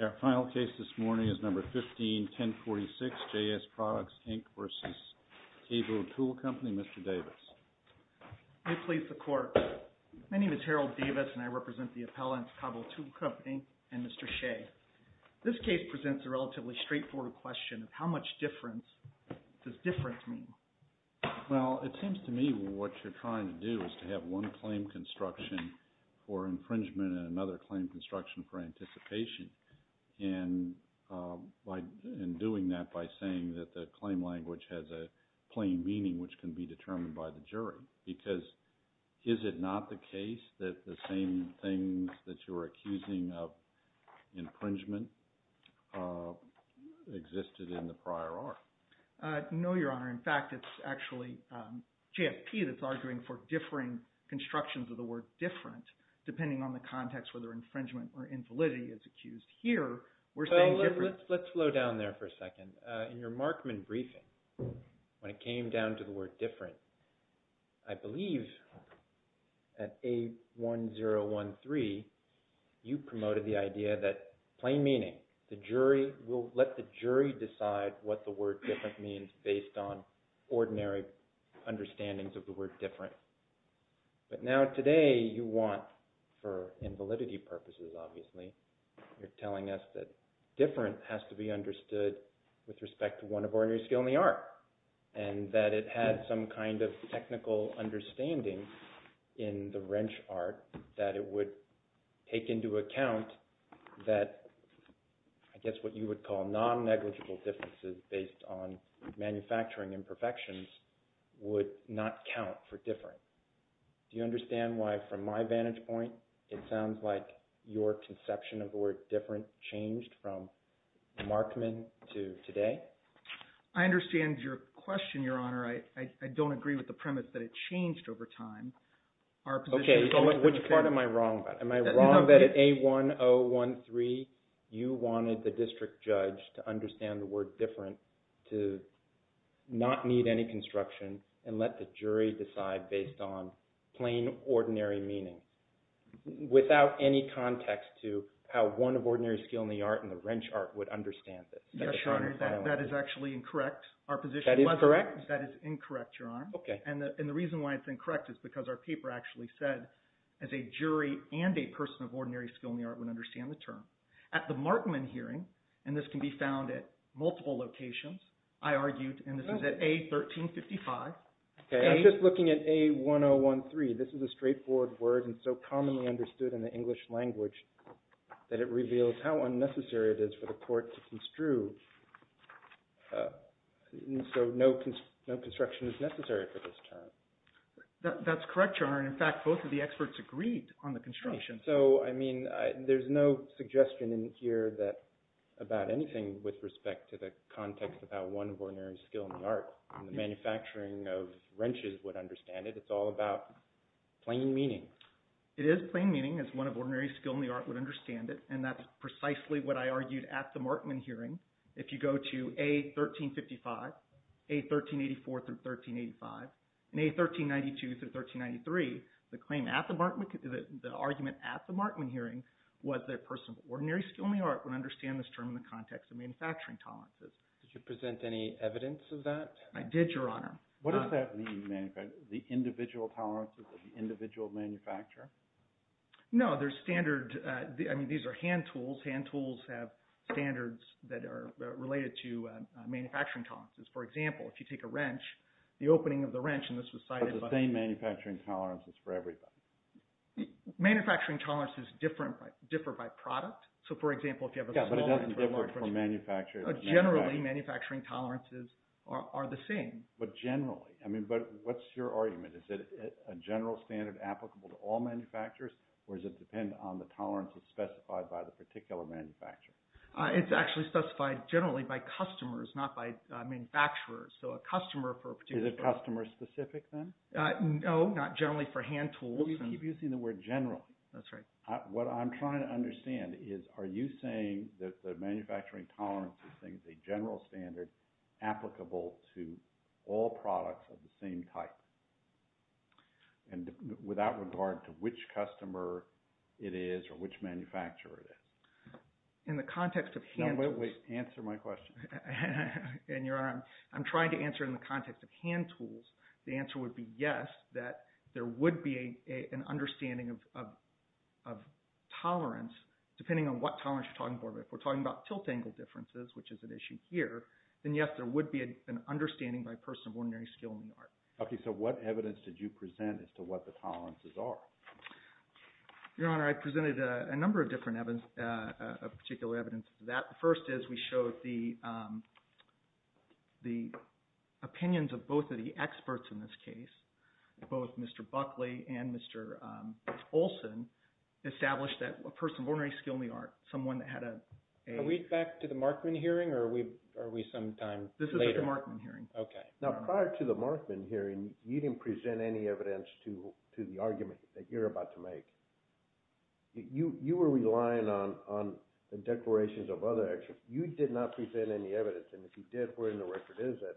We have a final case this morning is number 15-1046, JS Products, Inc. v. Kabo Tool Company. This case presents a relatively straightforward question of how much difference does difference mean? Well, it seems to me what you're trying to do is to have one claim construction for infringement and another claim construction for anticipation. And doing that by saying that the claim language has a plain meaning which can be determined by the jury. Because is it not the case that the same things that you're accusing of infringement existed in the prior art? No, Your Honor. In fact, it's actually JFP that's arguing for differing constructions of the word different depending on the context whether infringement or invalidity is accused here. Let's slow down there for a second. In your Markman briefing, when it came down to the word different, I believe at A1013, you promoted the idea that plain meaning. The jury will let the jury decide what the word different means based on ordinary understandings of the word different. But now today you want, for invalidity purposes obviously, you're telling us that different has to be understood with respect to one of ordinary skill in the art. And that it had some kind of technical understanding in the wrench art that it would take into account that I guess what you would call non-negligible differences based on manufacturing imperfections would not count for different. Do you understand why from my vantage point it sounds like your conception of the word different changed from Markman to today? I understand your question, Your Honor. I don't agree with the premise that it changed over time. Okay. Which part am I wrong about? Am I wrong that at A1013 you wanted the district judge to understand the word different to not need any construction and let the jury decide based on plain ordinary meaning without any context to how one of ordinary skill in the art and the wrench art would understand this? Yes, Your Honor. That is actually incorrect. That is incorrect, Your Honor. And the reason why it's incorrect is because our paper actually said as a jury and a person of ordinary skill in the art would understand the term. At the Markman hearing, and this can be found at multiple locations, I argued, and this is at A1355. I'm just looking at A1013. This is a straightforward word and so commonly understood in the English language that it reveals how unnecessary it is for the court to construe. So no construction is necessary for this term. That's correct, Your Honor. In fact, both of the experts agreed on the construction. So, I mean, there's no suggestion in here about anything with respect to the context of how one of ordinary skill in the art and the manufacturing of wrenches would understand it. It's all about plain meaning. It is plain meaning as one of ordinary skill in the art would understand it, and that's precisely what I argued at the Markman hearing. If you go to A1355, A1384 through 1385, and A1392 through 1393, the claim at the Markman – the argument at the Markman hearing was that a person of ordinary skill in the art would understand this term in the context of manufacturing tolerances. Did you present any evidence of that? I did, Your Honor. What does that mean, the individual tolerances of the individual manufacturer? No, there's standard – I mean, these are hand tools. Hand tools have standards that are related to manufacturing tolerances. For example, if you take a wrench, the opening of the wrench, and this was cited by – But the same manufacturing tolerances for everybody. Manufacturing tolerances differ by product. So, for example, if you have a – Yeah, but it doesn't differ for manufacturers. Generally, manufacturing tolerances are the same. But generally – I mean, but what's your argument? Is it a general standard applicable to all manufacturers, or does it depend on the tolerances specified by the particular manufacturer? It's actually specified generally by customers, not by manufacturers. So, a customer for a particular – Is it customer specific, then? No, not generally for hand tools. Well, you keep using the word generally. That's right. What I'm trying to understand is are you saying that the manufacturing tolerance is a general standard applicable to all products of the same type? And with that regard, to which customer it is or which manufacturer it is? In the context of hand tools – No, wait, wait. Answer my question. And, Your Honor, I'm trying to answer it in the context of hand tools. The answer would be yes, that there would be an understanding of tolerance, depending on what tolerance you're talking about. If we're talking about tilt angle differences, which is an issue here, then yes, there would be an understanding by a person of ordinary skill in the art. Okay, so what evidence did you present as to what the tolerances are? Your Honor, I presented a number of different – of particular evidence. The first is we showed the opinions of both of the experts in this case, both Mr. Buckley and Mr. Olson, established that a person of ordinary skill in the art, someone that had a – Are we back to the Markman hearing, or are we sometime later? This is the Markman hearing. Okay. Now, prior to the Markman hearing, you didn't present any evidence to the argument that you're about to make. You were relying on the declarations of other experts. You did not present any evidence, and if you did, where in the record is it?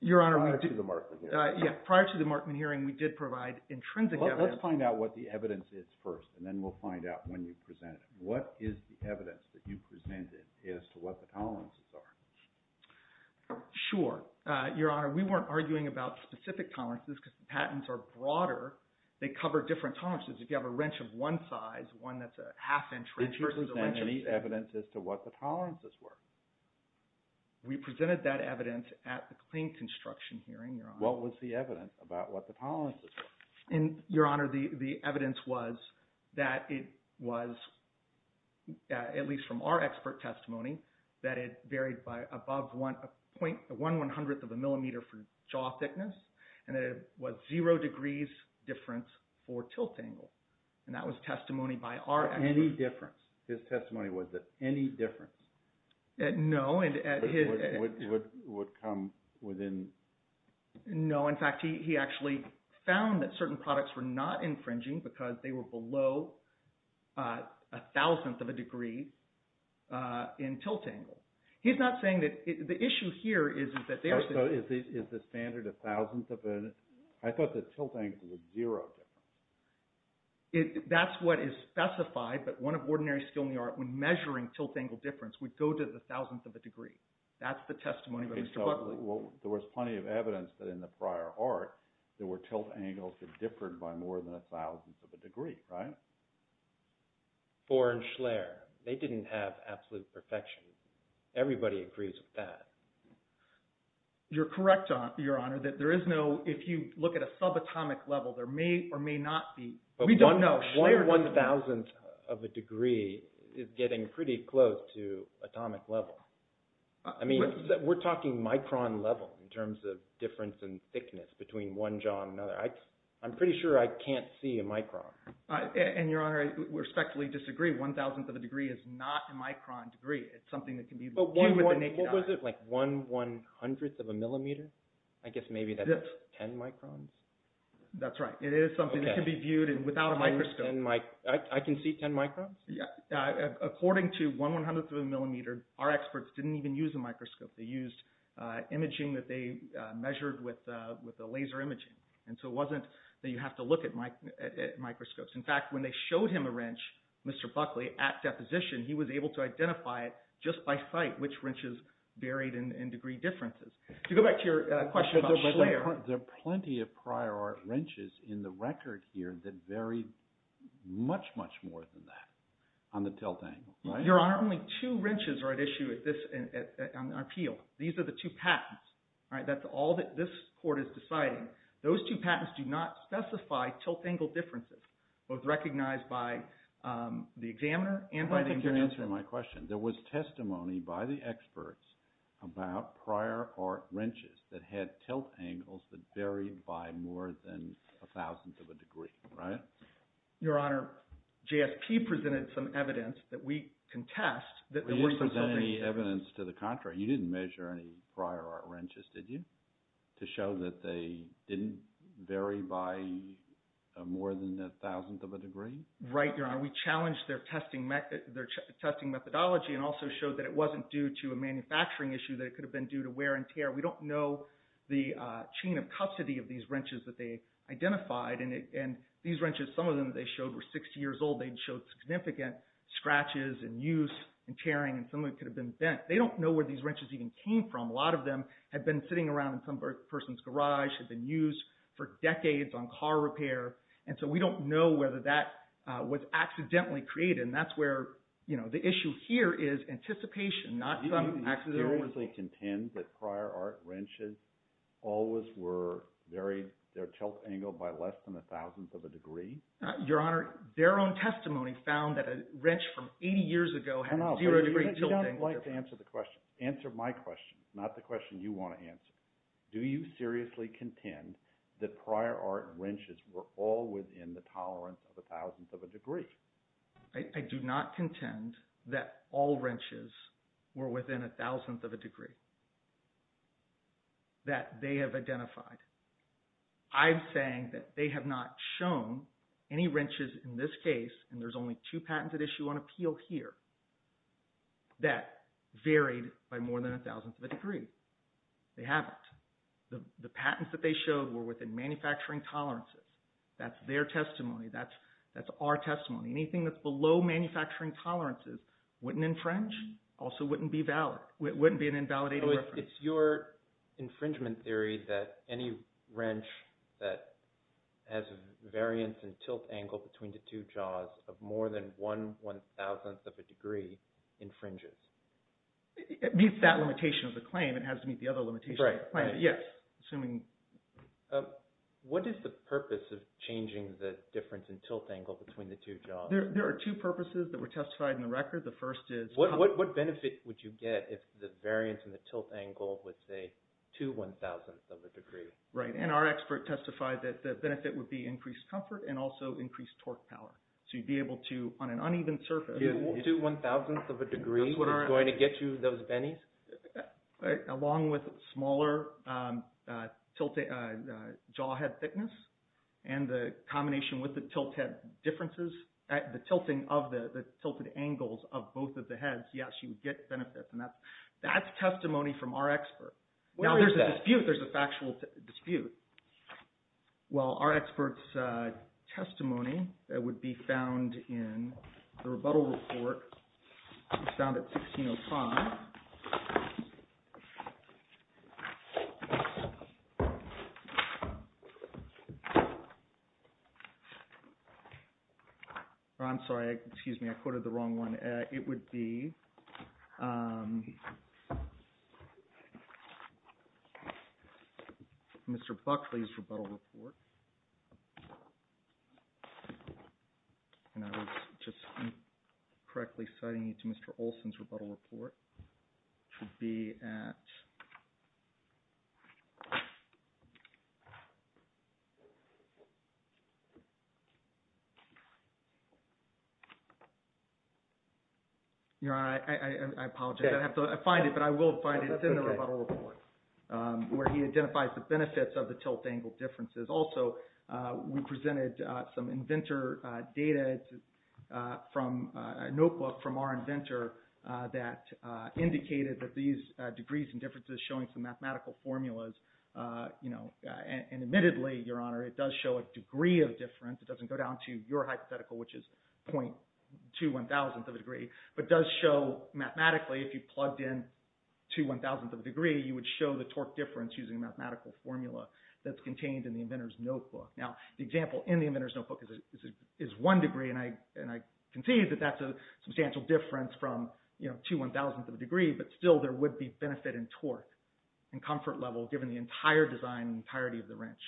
Your Honor, we did – Prior to the Markman hearing. Yeah, prior to the Markman hearing, we did provide intrinsic evidence. Let's find out what the evidence is first, and then we'll find out when you presented it. What is the evidence that you presented as to what the tolerances are? Sure. Your Honor, we weren't arguing about specific tolerances because the patents are broader. They cover different tolerances. If you have a wrench of one size, one that's a half-inch wrench versus a wrench of – Did you present any evidence as to what the tolerances were? We presented that evidence at the claim construction hearing, Your Honor. What was the evidence about what the tolerances were? Your Honor, the evidence was that it was, at least from our expert testimony, that it varied by above one one-hundredth of a millimeter for jaw thickness, and it was zero degrees difference for tilt angle. That was testimony by our expert. Any difference? His testimony was that any difference? No. Would come within – No. In fact, he actually found that certain products were not infringing because they were below a thousandth of a degree in tilt angle. He's not saying that – the issue here is that there's – So is the standard a thousandth of a – I thought the tilt angle was zero. That's what is specified, but one of ordinary skill in the art when measuring tilt angle difference would go to the thousandth of a degree. That's the testimony by Mr. Buckley. There was plenty of evidence that in the prior art there were tilt angles that differed by more than a thousandth of a degree, right? Bohr and Schleyer, they didn't have absolute perfection. Everybody agrees with that. You're correct, Your Honor, that there is no – if you look at a subatomic level, there may or may not be – we don't know. One one-thousandth of a degree is getting pretty close to atomic level. I mean, we're talking micron level in terms of difference in thickness between one jaw and another. I'm pretty sure I can't see a micron. And, Your Honor, I respectfully disagree. One thousandth of a degree is not a micron degree. It's something that can be viewed with the naked eye. What was it, like one one-hundredth of a millimeter? I guess maybe that's ten microns. That's right. It is something that can be viewed without a microscope. I can see ten microns? According to one one-hundredth of a millimeter, our experts didn't even use a microscope. They used imaging that they measured with the laser imaging. And so it wasn't that you have to look at microscopes. In fact, when they showed him a wrench, Mr. Buckley, at deposition, he was able to identify it just by sight, which wrenches varied in degree differences. To go back to your question about Schleyer. There are plenty of prior art wrenches in the record here that vary much, much more than that on the tilt angle. Your Honor, only two wrenches are at issue on the appeal. These are the two patents. That's all that this court is deciding. Those two patents do not specify tilt angle differences, both recognized by the examiner and by the investigator. I don't think you're answering my question. Your Honor, there was testimony by the experts about prior art wrenches that had tilt angles that varied by more than a thousandth of a degree. Right? Your Honor, JSP presented some evidence that we contest. You didn't present any evidence to the contrary. You didn't measure any prior art wrenches, did you, to show that they didn't vary by more than a thousandth of a degree? Right, Your Honor. We challenged their testing methodology and also showed that it wasn't due to a manufacturing issue, that it could have been due to wear and tear. We don't know the chain of custody of these wrenches that they identified. These wrenches, some of them that they showed were 60 years old. They showed significant scratches and use and tearing, and some of it could have been bent. They don't know where these wrenches even came from. A lot of them had been sitting around in some person's garage, had been used for decades on car repair. And so we don't know whether that was accidentally created, and that's where the issue here is anticipation, not some accident. Do you seriously contend that prior art wrenches always varied their tilt angle by less than a thousandth of a degree? Your Honor, their own testimony found that a wrench from 80 years ago had a zero degree tilt angle. You don't like to answer the question. Answer my question, not the question you want to answer. Do you seriously contend that prior art wrenches were all within the tolerance of a thousandth of a degree? I do not contend that all wrenches were within a thousandth of a degree that they have identified. I'm saying that they have not shown any wrenches in this case, and there's only two patents at issue on appeal here, that varied by more than a thousandth of a degree. They haven't. The patents that they showed were within manufacturing tolerances. That's their testimony. That's our testimony. Anything that's below manufacturing tolerances wouldn't infringe, also wouldn't be valid, wouldn't be an invalidated reference. So it's your infringement theory that any wrench that has a variance in tilt angle between the two jaws of more than one one-thousandth of a degree infringes? It meets that limitation of the claim. It has to meet the other limitation of the claim. Right. Yes. Assuming… What is the purpose of changing the difference in tilt angle between the two jaws? There are two purposes that were testified in the record. The first is… What benefit would you get if the variance in the tilt angle was, say, two one-thousandth of a degree? Right, and our expert testified that the benefit would be increased comfort and also increased torque power. So you'd be able to, on an uneven surface… Two one-thousandth of a degree? That's what's going to get you those bennies? Along with smaller jaw head thickness and the combination with the tilt head differences, the tilting of the tilted angles of both of the heads, yes, you would get benefits. And that's testimony from our expert. Where is that? Now, there's a dispute. There's a factual dispute. Well, our expert's testimony that would be found in the rebuttal report found at 1605… I'm sorry. Excuse me. I quoted the wrong one. It would be Mr. Buckley's rebuttal report, and I was just incorrectly citing it to Mr. Olson's rebuttal report, to be at… Your Honor, I apologize. I have to find it, but I will find it. It's in the rebuttal report where he identifies the benefits of the tilt angle differences. Also, we presented some inventor data from a notebook from our inventor that indicated that these degrees and differences showing some mathematical formulas. And admittedly, Your Honor, it does show a degree of difference. It doesn't go down to your hypothetical, which is .21,000th of a degree, but does show mathematically if you plugged in 21,000th of a degree, you would show the torque difference using a mathematical formula that's contained in the inventor's notebook. Now, the example in the inventor's notebook is one degree, and I concede that that's a substantial difference from .21,000th of a degree, but still there would be benefit in torque and comfort level given the entire design and entirety of the wrench.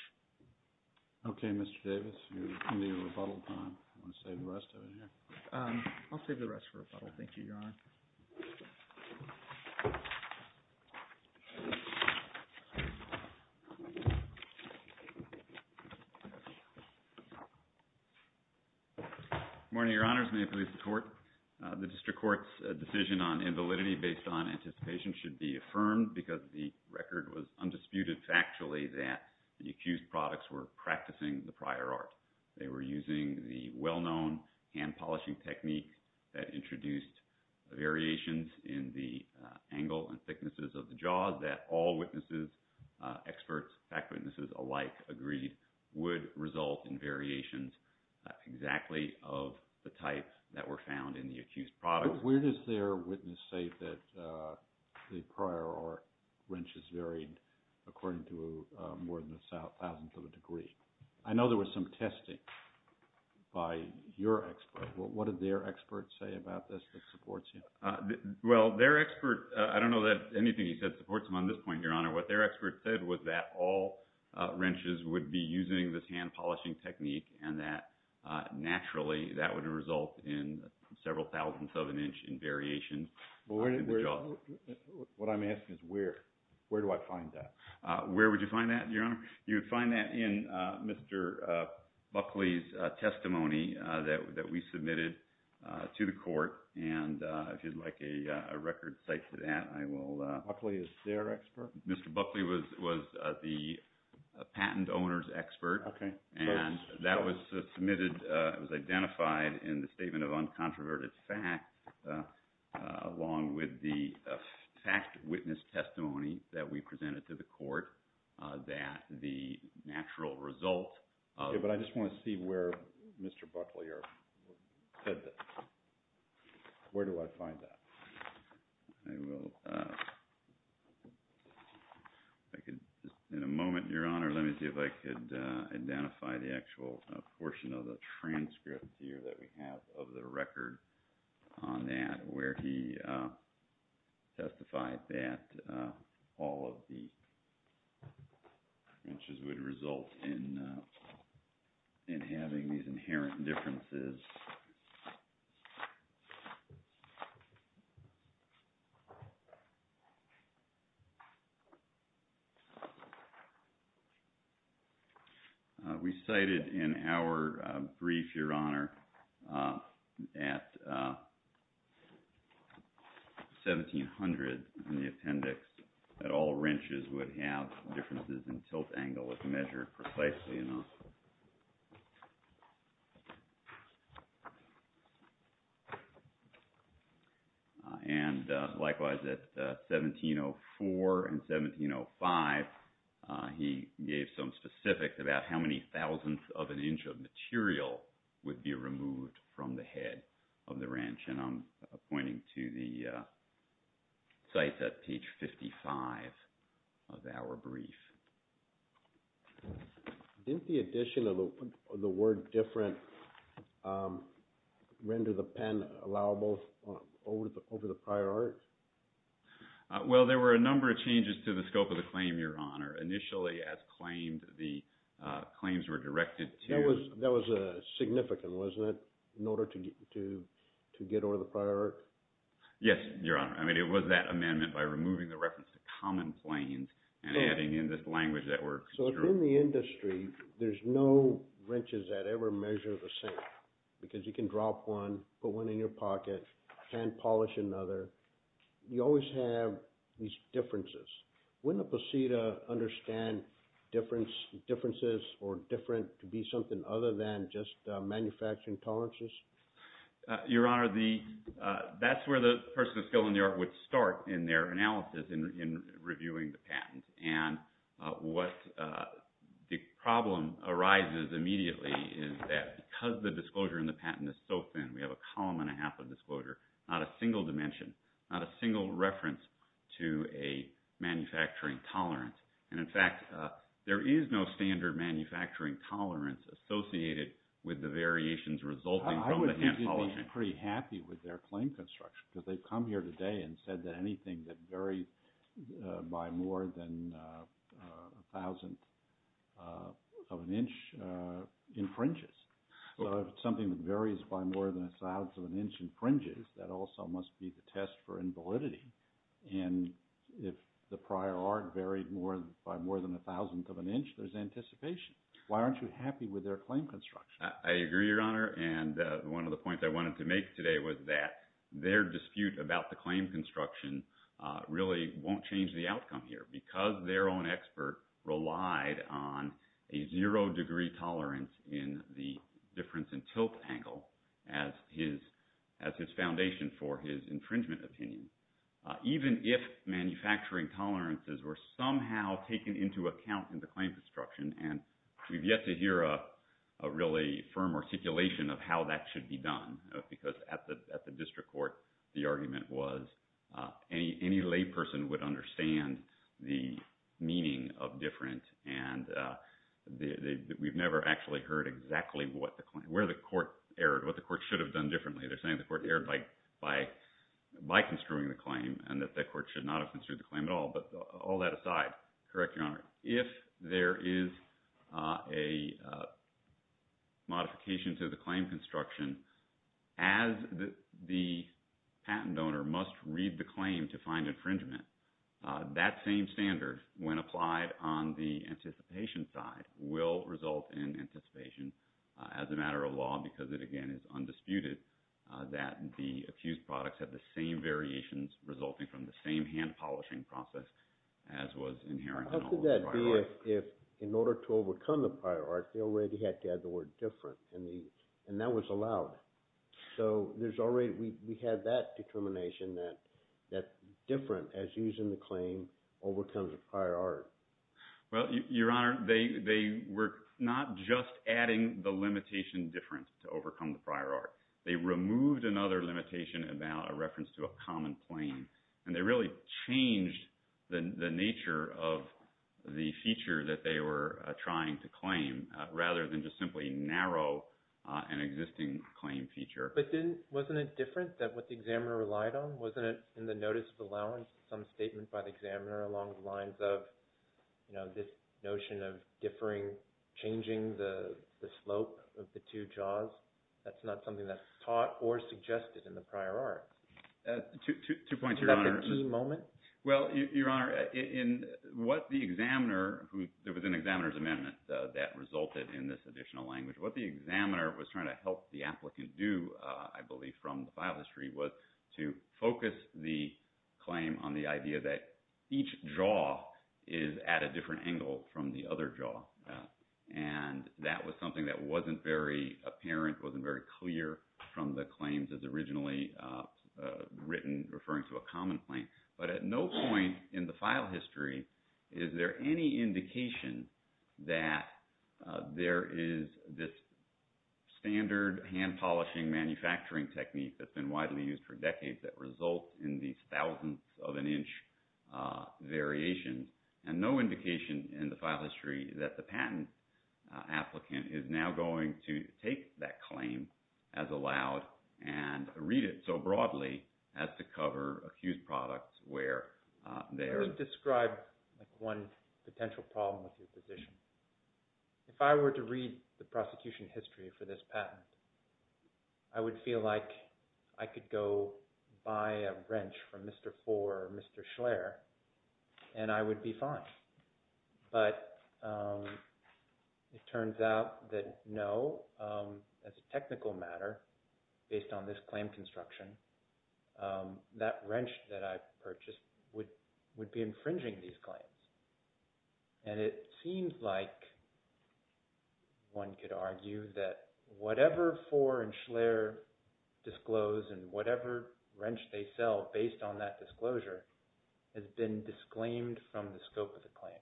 Okay, Mr. Davis. You're in the rebuttal time. Do you want to save the rest of it here? I'll save the rest for rebuttal. Thank you, Your Honor. Good morning, Your Honors. May it please the Court. The district court's decision on invalidity based on anticipation should be affirmed because the record was undisputed factually that the accused products were practicing the prior art. They were using the well-known hand polishing technique that introduced variations in the angle and thicknesses of the jaws that all witnesses, experts, fact witnesses alike, agreed would result in variations exactly of the type that were found in the accused products. Where does their witness say that the prior art wrenches varied according to more than 1,000th of a degree? I know there was some testing by your expert. What did their expert say about this that supports you? Well, their expert – I don't know that anything he said supports him on this point, Your Honor. What their expert said was that all wrenches would be using this hand polishing technique and that naturally that would result in several thousandths of an inch in variations in the jaws. What I'm asking is where. Where do I find that? Where would you find that, Your Honor? You would find that in Mr. Buckley's testimony that we submitted to the court. And if you'd like a record cite to that, I will – Buckley is their expert? Mr. Buckley was the patent owner's expert. Okay. And that was submitted – it was identified in the Statement of Uncontroverted Facts along with the fact witness testimony that we presented to the court that the natural result of – Okay, but I just want to see where Mr. Buckley said that. Where do I find that? I will – I could – in a moment, Your Honor, let me see if I could identify the actual portion of the transcript here that we have of the record on that where he testified that all of the wrenches would result in having these inherent differences. We cited in our brief, Your Honor, at 1700 in the appendix that all wrenches would have differences in tilt angle if measured precisely enough. And likewise at 1704 and 1705, he gave some specifics about how many thousandths of an inch of material would be removed from the head of the wrench. And I'm pointing to the cites at page 55 of our brief. Didn't the addition of the word different render the pen allowable over the prior art? Well, there were a number of changes to the scope of the claim, Your Honor. Initially, as claimed, the claims were directed to – That was significant, wasn't it, in order to get over the prior art? Yes, Your Honor. I mean, it was that amendment by removing the reference to common planes and adding in this language that we're construing. So within the industry, there's no wrenches that ever measure the same because you can drop one, put one in your pocket, hand polish another. You always have these differences. Wouldn't a posse to understand differences or different to be something other than just manufacturing tolerances? Your Honor, that's where the person of skill in the art would start in their analysis in reviewing the patent. And what the problem arises immediately is that because the disclosure in the patent is so thin, we have a column and a half of disclosure, not a single dimension, not a single reference to a manufacturing tolerance. And in fact, there is no standard manufacturing tolerance associated with the variations resulting from the hand polishing. I would think they'd be pretty happy with their claim construction because they've come here today and said that anything that varies by more than a thousandth of an inch infringes. So if it's something that varies by more than a thousandth of an inch infringes, that also must be the test for invalidity. And if the prior art varied by more than a thousandth of an inch, there's anticipation. Why aren't you happy with their claim construction? I agree, Your Honor. And one of the points I wanted to make today was that their dispute about the claim construction really won't change the outcome here because their own expert relied on a zero degree tolerance in the difference in tilt angle as his foundation for his infringement opinion. Even if manufacturing tolerances were somehow taken into account in the claim construction, and we've yet to hear a really firm articulation of how that should be done because at the district court, the argument was any lay person would understand the meaning of different. And we've never actually heard exactly where the court erred, what the court should have done differently. They're saying the court erred by construing the claim and that the court should not have construed the claim at all. But all that aside, correct, Your Honor, if there is a modification to the claim construction, as the patent owner must read the claim to find infringement, that same standard, when applied on the anticipation side, will result in anticipation as a matter of law because it, again, is undisputed. That the accused products have the same variations resulting from the same hand polishing process as was inherent in all of the prior art. How could that be if, in order to overcome the prior art, they already had to add the word different, and that was allowed? So there's already, we have that determination that different, as used in the claim, overcomes the prior art. Well, Your Honor, they were not just adding the limitation different to overcome the prior art. They removed another limitation about a reference to a common claim. And they really changed the nature of the feature that they were trying to claim rather than just simply narrow an existing claim feature. But then wasn't it different that what the examiner relied on? Wasn't it in the notice of allowance some statement by the examiner along the lines of, you know, this notion of differing, changing the slope of the two jaws? That's not something that's taught or suggested in the prior art. Two points, Your Honor. Is that the key moment? Well, Your Honor, in what the examiner, there was an examiner's amendment that resulted in this additional language. What the examiner was trying to help the applicant do, I believe, from the file history, was to focus the claim on the idea that each jaw is at a different angle from the other jaw. And that was something that wasn't very apparent, wasn't very clear from the claims as originally written referring to a common claim. But at no point in the file history is there any indication that there is this standard hand polishing manufacturing technique that's been widely used for decades that results in these thousandths of an inch variations. And no indication in the file history that the patent applicant is now going to take that claim as allowed and read it so broadly as to cover accused products where they are. I would describe one potential problem with your position. If I were to read the prosecution history for this patent, I would feel like I could go buy a wrench from Mr. Foer or Mr. Schlaer and I would be fine. But it turns out that no, as a technical matter, based on this claim construction, that wrench that I purchased would be infringing these claims. And it seems like one could argue that whatever Foer and Schlaer disclose and whatever wrench they sell based on that disclosure has been disclaimed from the scope of the claim.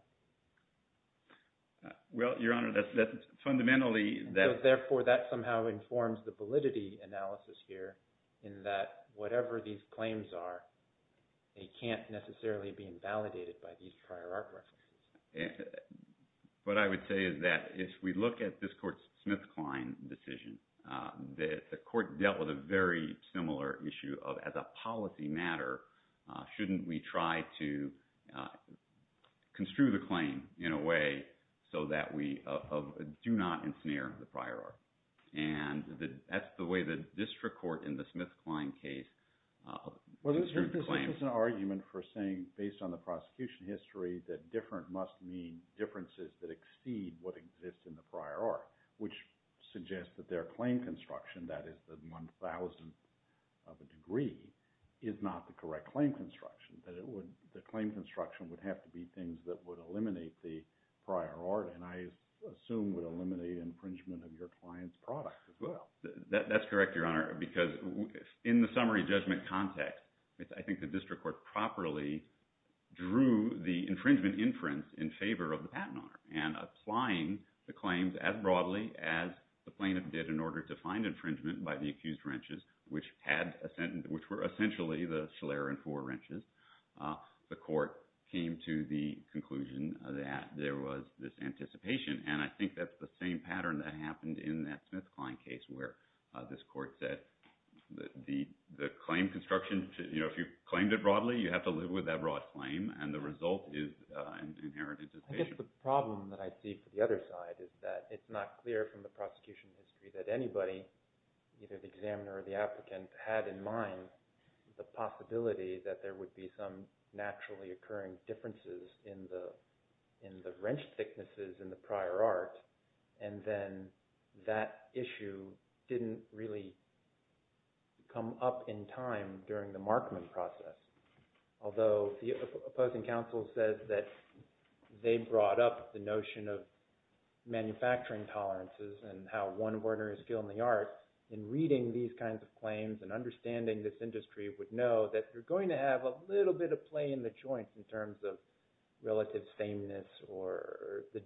Well, Your Honor, that's fundamentally… Therefore, that somehow informs the validity analysis here in that whatever these claims are, they can't necessarily be invalidated by these prior art references. What I would say is that if we look at this court's Smith-Klein decision, the court dealt with a very similar issue of as a policy matter, shouldn't we try to construe the claim in a way so that we do not ensnare the prior art? And that's the way the district court in the Smith-Klein case… Well, this is an argument for saying, based on the prosecution history, that different must mean differences that exceed what exists in the prior art, which suggests that their claim construction, that is the 1,000th of a degree, is not the correct claim construction. That the claim construction would have to be things that would eliminate the prior art and I assume would eliminate infringement of your client's product as well. That's correct, Your Honor, because in the summary judgment context, I think the district court properly drew the infringement inference in favor of the patent owner and applying the claims as broadly as the plaintiff did in order to find infringement by the accused wrenches, which were essentially the Schiller and Foer wrenches. The court came to the conclusion that there was this anticipation and I think that's the same pattern that happened in that Smith-Klein case where this court said the claim construction, if you claimed it broadly, you have to live with that broad claim and the result is an inherent anticipation. I guess the problem that I see for the other side is that it's not clear from the prosecution history that anybody, either the examiner or the applicant, had in mind the possibility that there would be some naturally occurring differences in the wrench thicknesses in the prior art and then that issue didn't really come up in time during the Markman process. Although the opposing counsel says that they brought up the notion of manufacturing tolerances and how one ordinary skill in the arts in reading these kinds of claims and understanding this industry would know that you're going to have a little bit of play in the joints in terms of relative sameness or the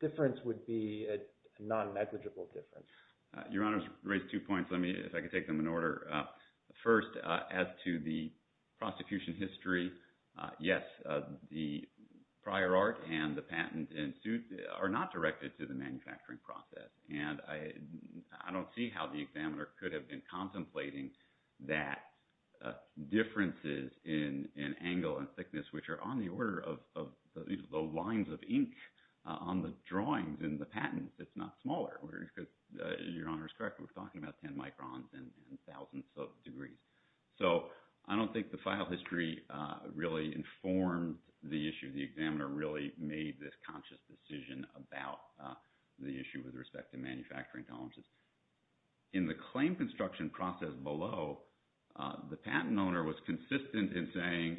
difference would be a non-negligible difference. Your Honor's raised two points. Let me, if I could take them in order. First, as to the prosecution history, yes, the prior art and the patent are not directed to the manufacturing process and I don't see how the examiner could have been contemplating that differences in angle and thickness, which are on the order of the lines of ink on the drawings in the patent. It's not smaller. Your Honor's correct. We're talking about 10 microns and thousands of degrees. So, I don't think the file history really informed the issue. The examiner really made this conscious decision about the issue with respect to manufacturing tolerances. In the claim construction process below, the patent owner was consistent in saying,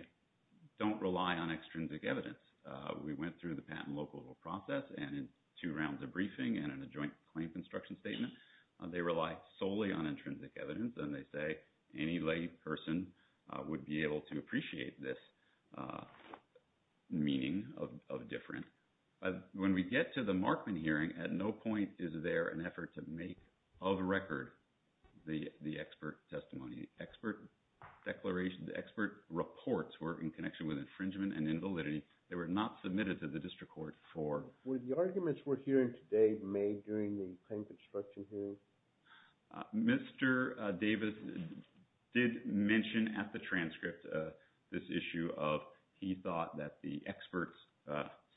don't rely on extrinsic evidence. We went through the patent local process and in two rounds of briefing and in a joint claim construction statement, they rely solely on intrinsic evidence and they say any lay person would be able to appreciate this meaning of difference. When we get to the Markman hearing, at no point is there an effort to make of record the expert testimony. The expert declaration, the expert reports were in connection with infringement and invalidity. They were not submitted to the district court for… Were the arguments we're hearing today made during the claim construction hearing? Mr. Davis did mention at the transcript this issue of he thought that the experts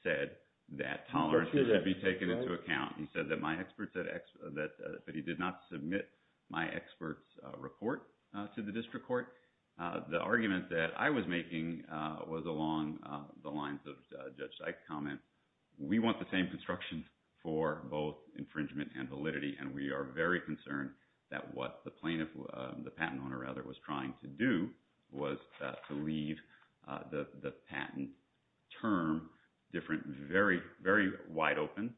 said that tolerance should be taken into account. He said that my expert said that he did not submit my expert's report to the district court. The argument that I was making was along the lines of Judge Sykes' comment. We want the same construction for both infringement and validity and we are very concerned that what the plaintiff, the patent owner rather, was trying to do was to leave the patent term different, very, very wide open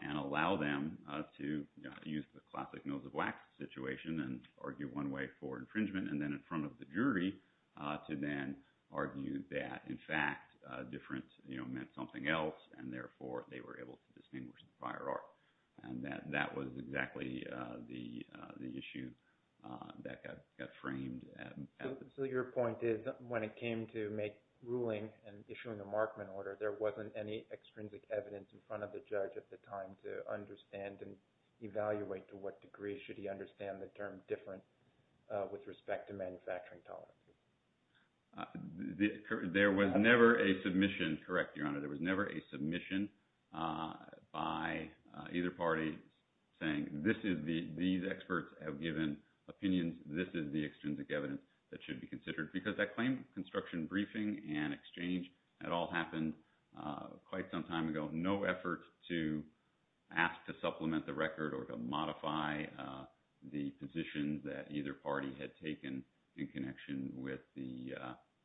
and allow them to use the classic nose of wax situation and argue one way for infringement and then in front of the jury to then argue that, in fact, different meant something else. And therefore, they were able to distinguish the prior art. And that was exactly the issue that got framed at the… So your point is when it came to make ruling and issuing a Markman order, there wasn't any extrinsic evidence in front of the judge at the time to understand and evaluate to what degree should he understand the term different with respect to manufacturing tolerance? There was never a submission. Correct, Your Honor.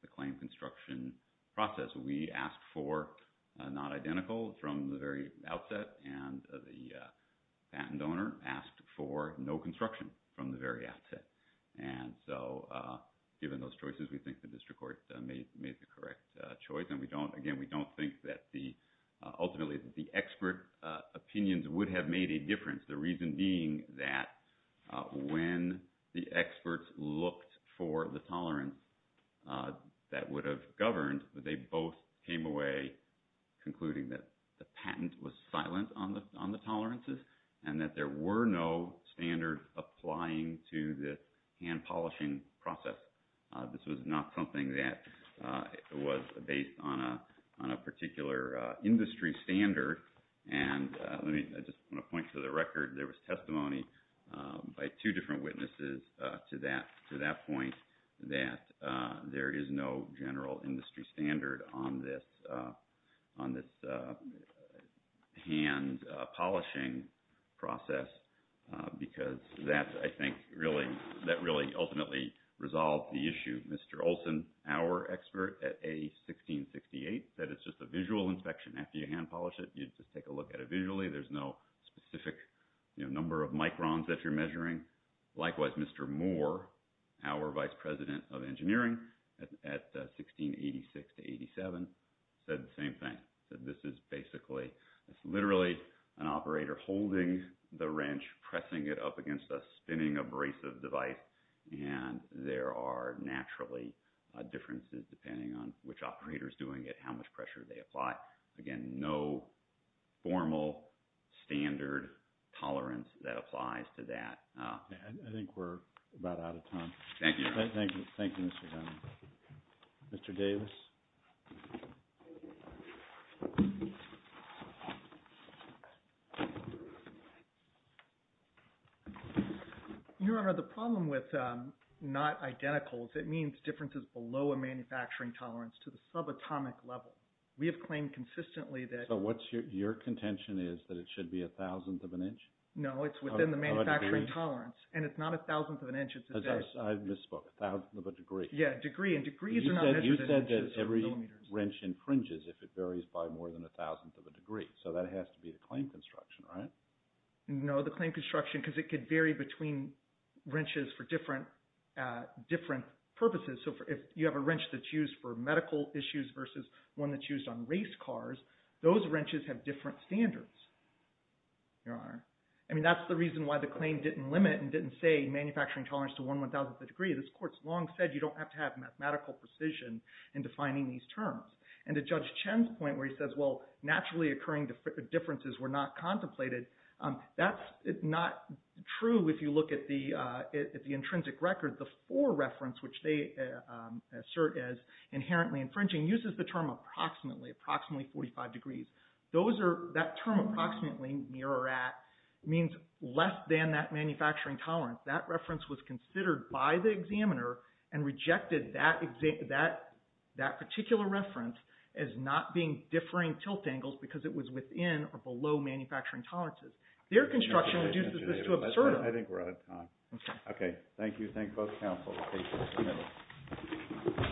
the claim construction process. We asked for not identical from the very outset and the patent owner asked for no construction from the very outset. And so, given those choices, we think the district court made the correct choice. And again, we don't think that ultimately the expert opinions would have made a difference. The reason being that when the experts looked for the tolerance that would have governed, they both came away concluding that the patent was silent on the tolerances and that there were no standards applying to the hand polishing process. This was not something that was based on a particular industry standard. I just want to point to the record. There was testimony by two different witnesses to that point that there is no general industry standard on this hand polishing process because that, I think, really ultimately resolved the issue. Mr. Olson, our expert at A1668, said it's just a visual inspection. After you hand polish it, you just take a look at it visually. There's no specific number of microns that you're measuring. Likewise, Mr. Moore, our vice president of engineering at 1686-87, said the same thing. Said this is basically, it's literally an operator holding the wrench, pressing it up against a spinning abrasive device, and there are naturally differences depending on which operator is doing it, how much pressure they apply. Again, no formal standard tolerance that applies to that. I think we're about out of time. Thank you, Your Honor. Thank you, Mr. Dunn. Mr. Davis. Your Honor, the problem with not identicals, it means differences below a manufacturing tolerance to the subatomic level. We have claimed consistently that... So, what's your contention is that it should be a thousandth of an inch? No, it's within the manufacturing tolerance. Of a degree? And it's not a thousandth of an inch. I misspoke. A thousandth of a degree. Yeah, a degree. And degrees are not measured in inches or millimeters. You said that every wrench infringes if it varies by more than a thousandth of a degree. So, that has to be the claim construction, right? No, the claim construction, because it could vary between wrenches for different purposes. So, if you have a wrench that's used for medical issues versus one that's used on race cars, those wrenches have different standards, Your Honor. I mean, that's the reason why the claim didn't limit and didn't say manufacturing tolerance to one one-thousandth of a degree. This court's long said you don't have to have mathematical precision in defining these terms. And to Judge Chen's point where he says, well, naturally occurring differences were not contemplated, that's not true if you look at the intrinsic record. The fore reference, which they assert as inherently infringing, uses the term approximately, approximately 45 degrees. That term approximately, near or at, means less than that manufacturing tolerance. That reference was considered by the examiner and rejected that particular reference as not being differing tilt angles because it was within or below manufacturing tolerances. Their construction reduces this to absurdity. I think we're out of time. Okay. Thank you. Thank both counsels. Case is submitted.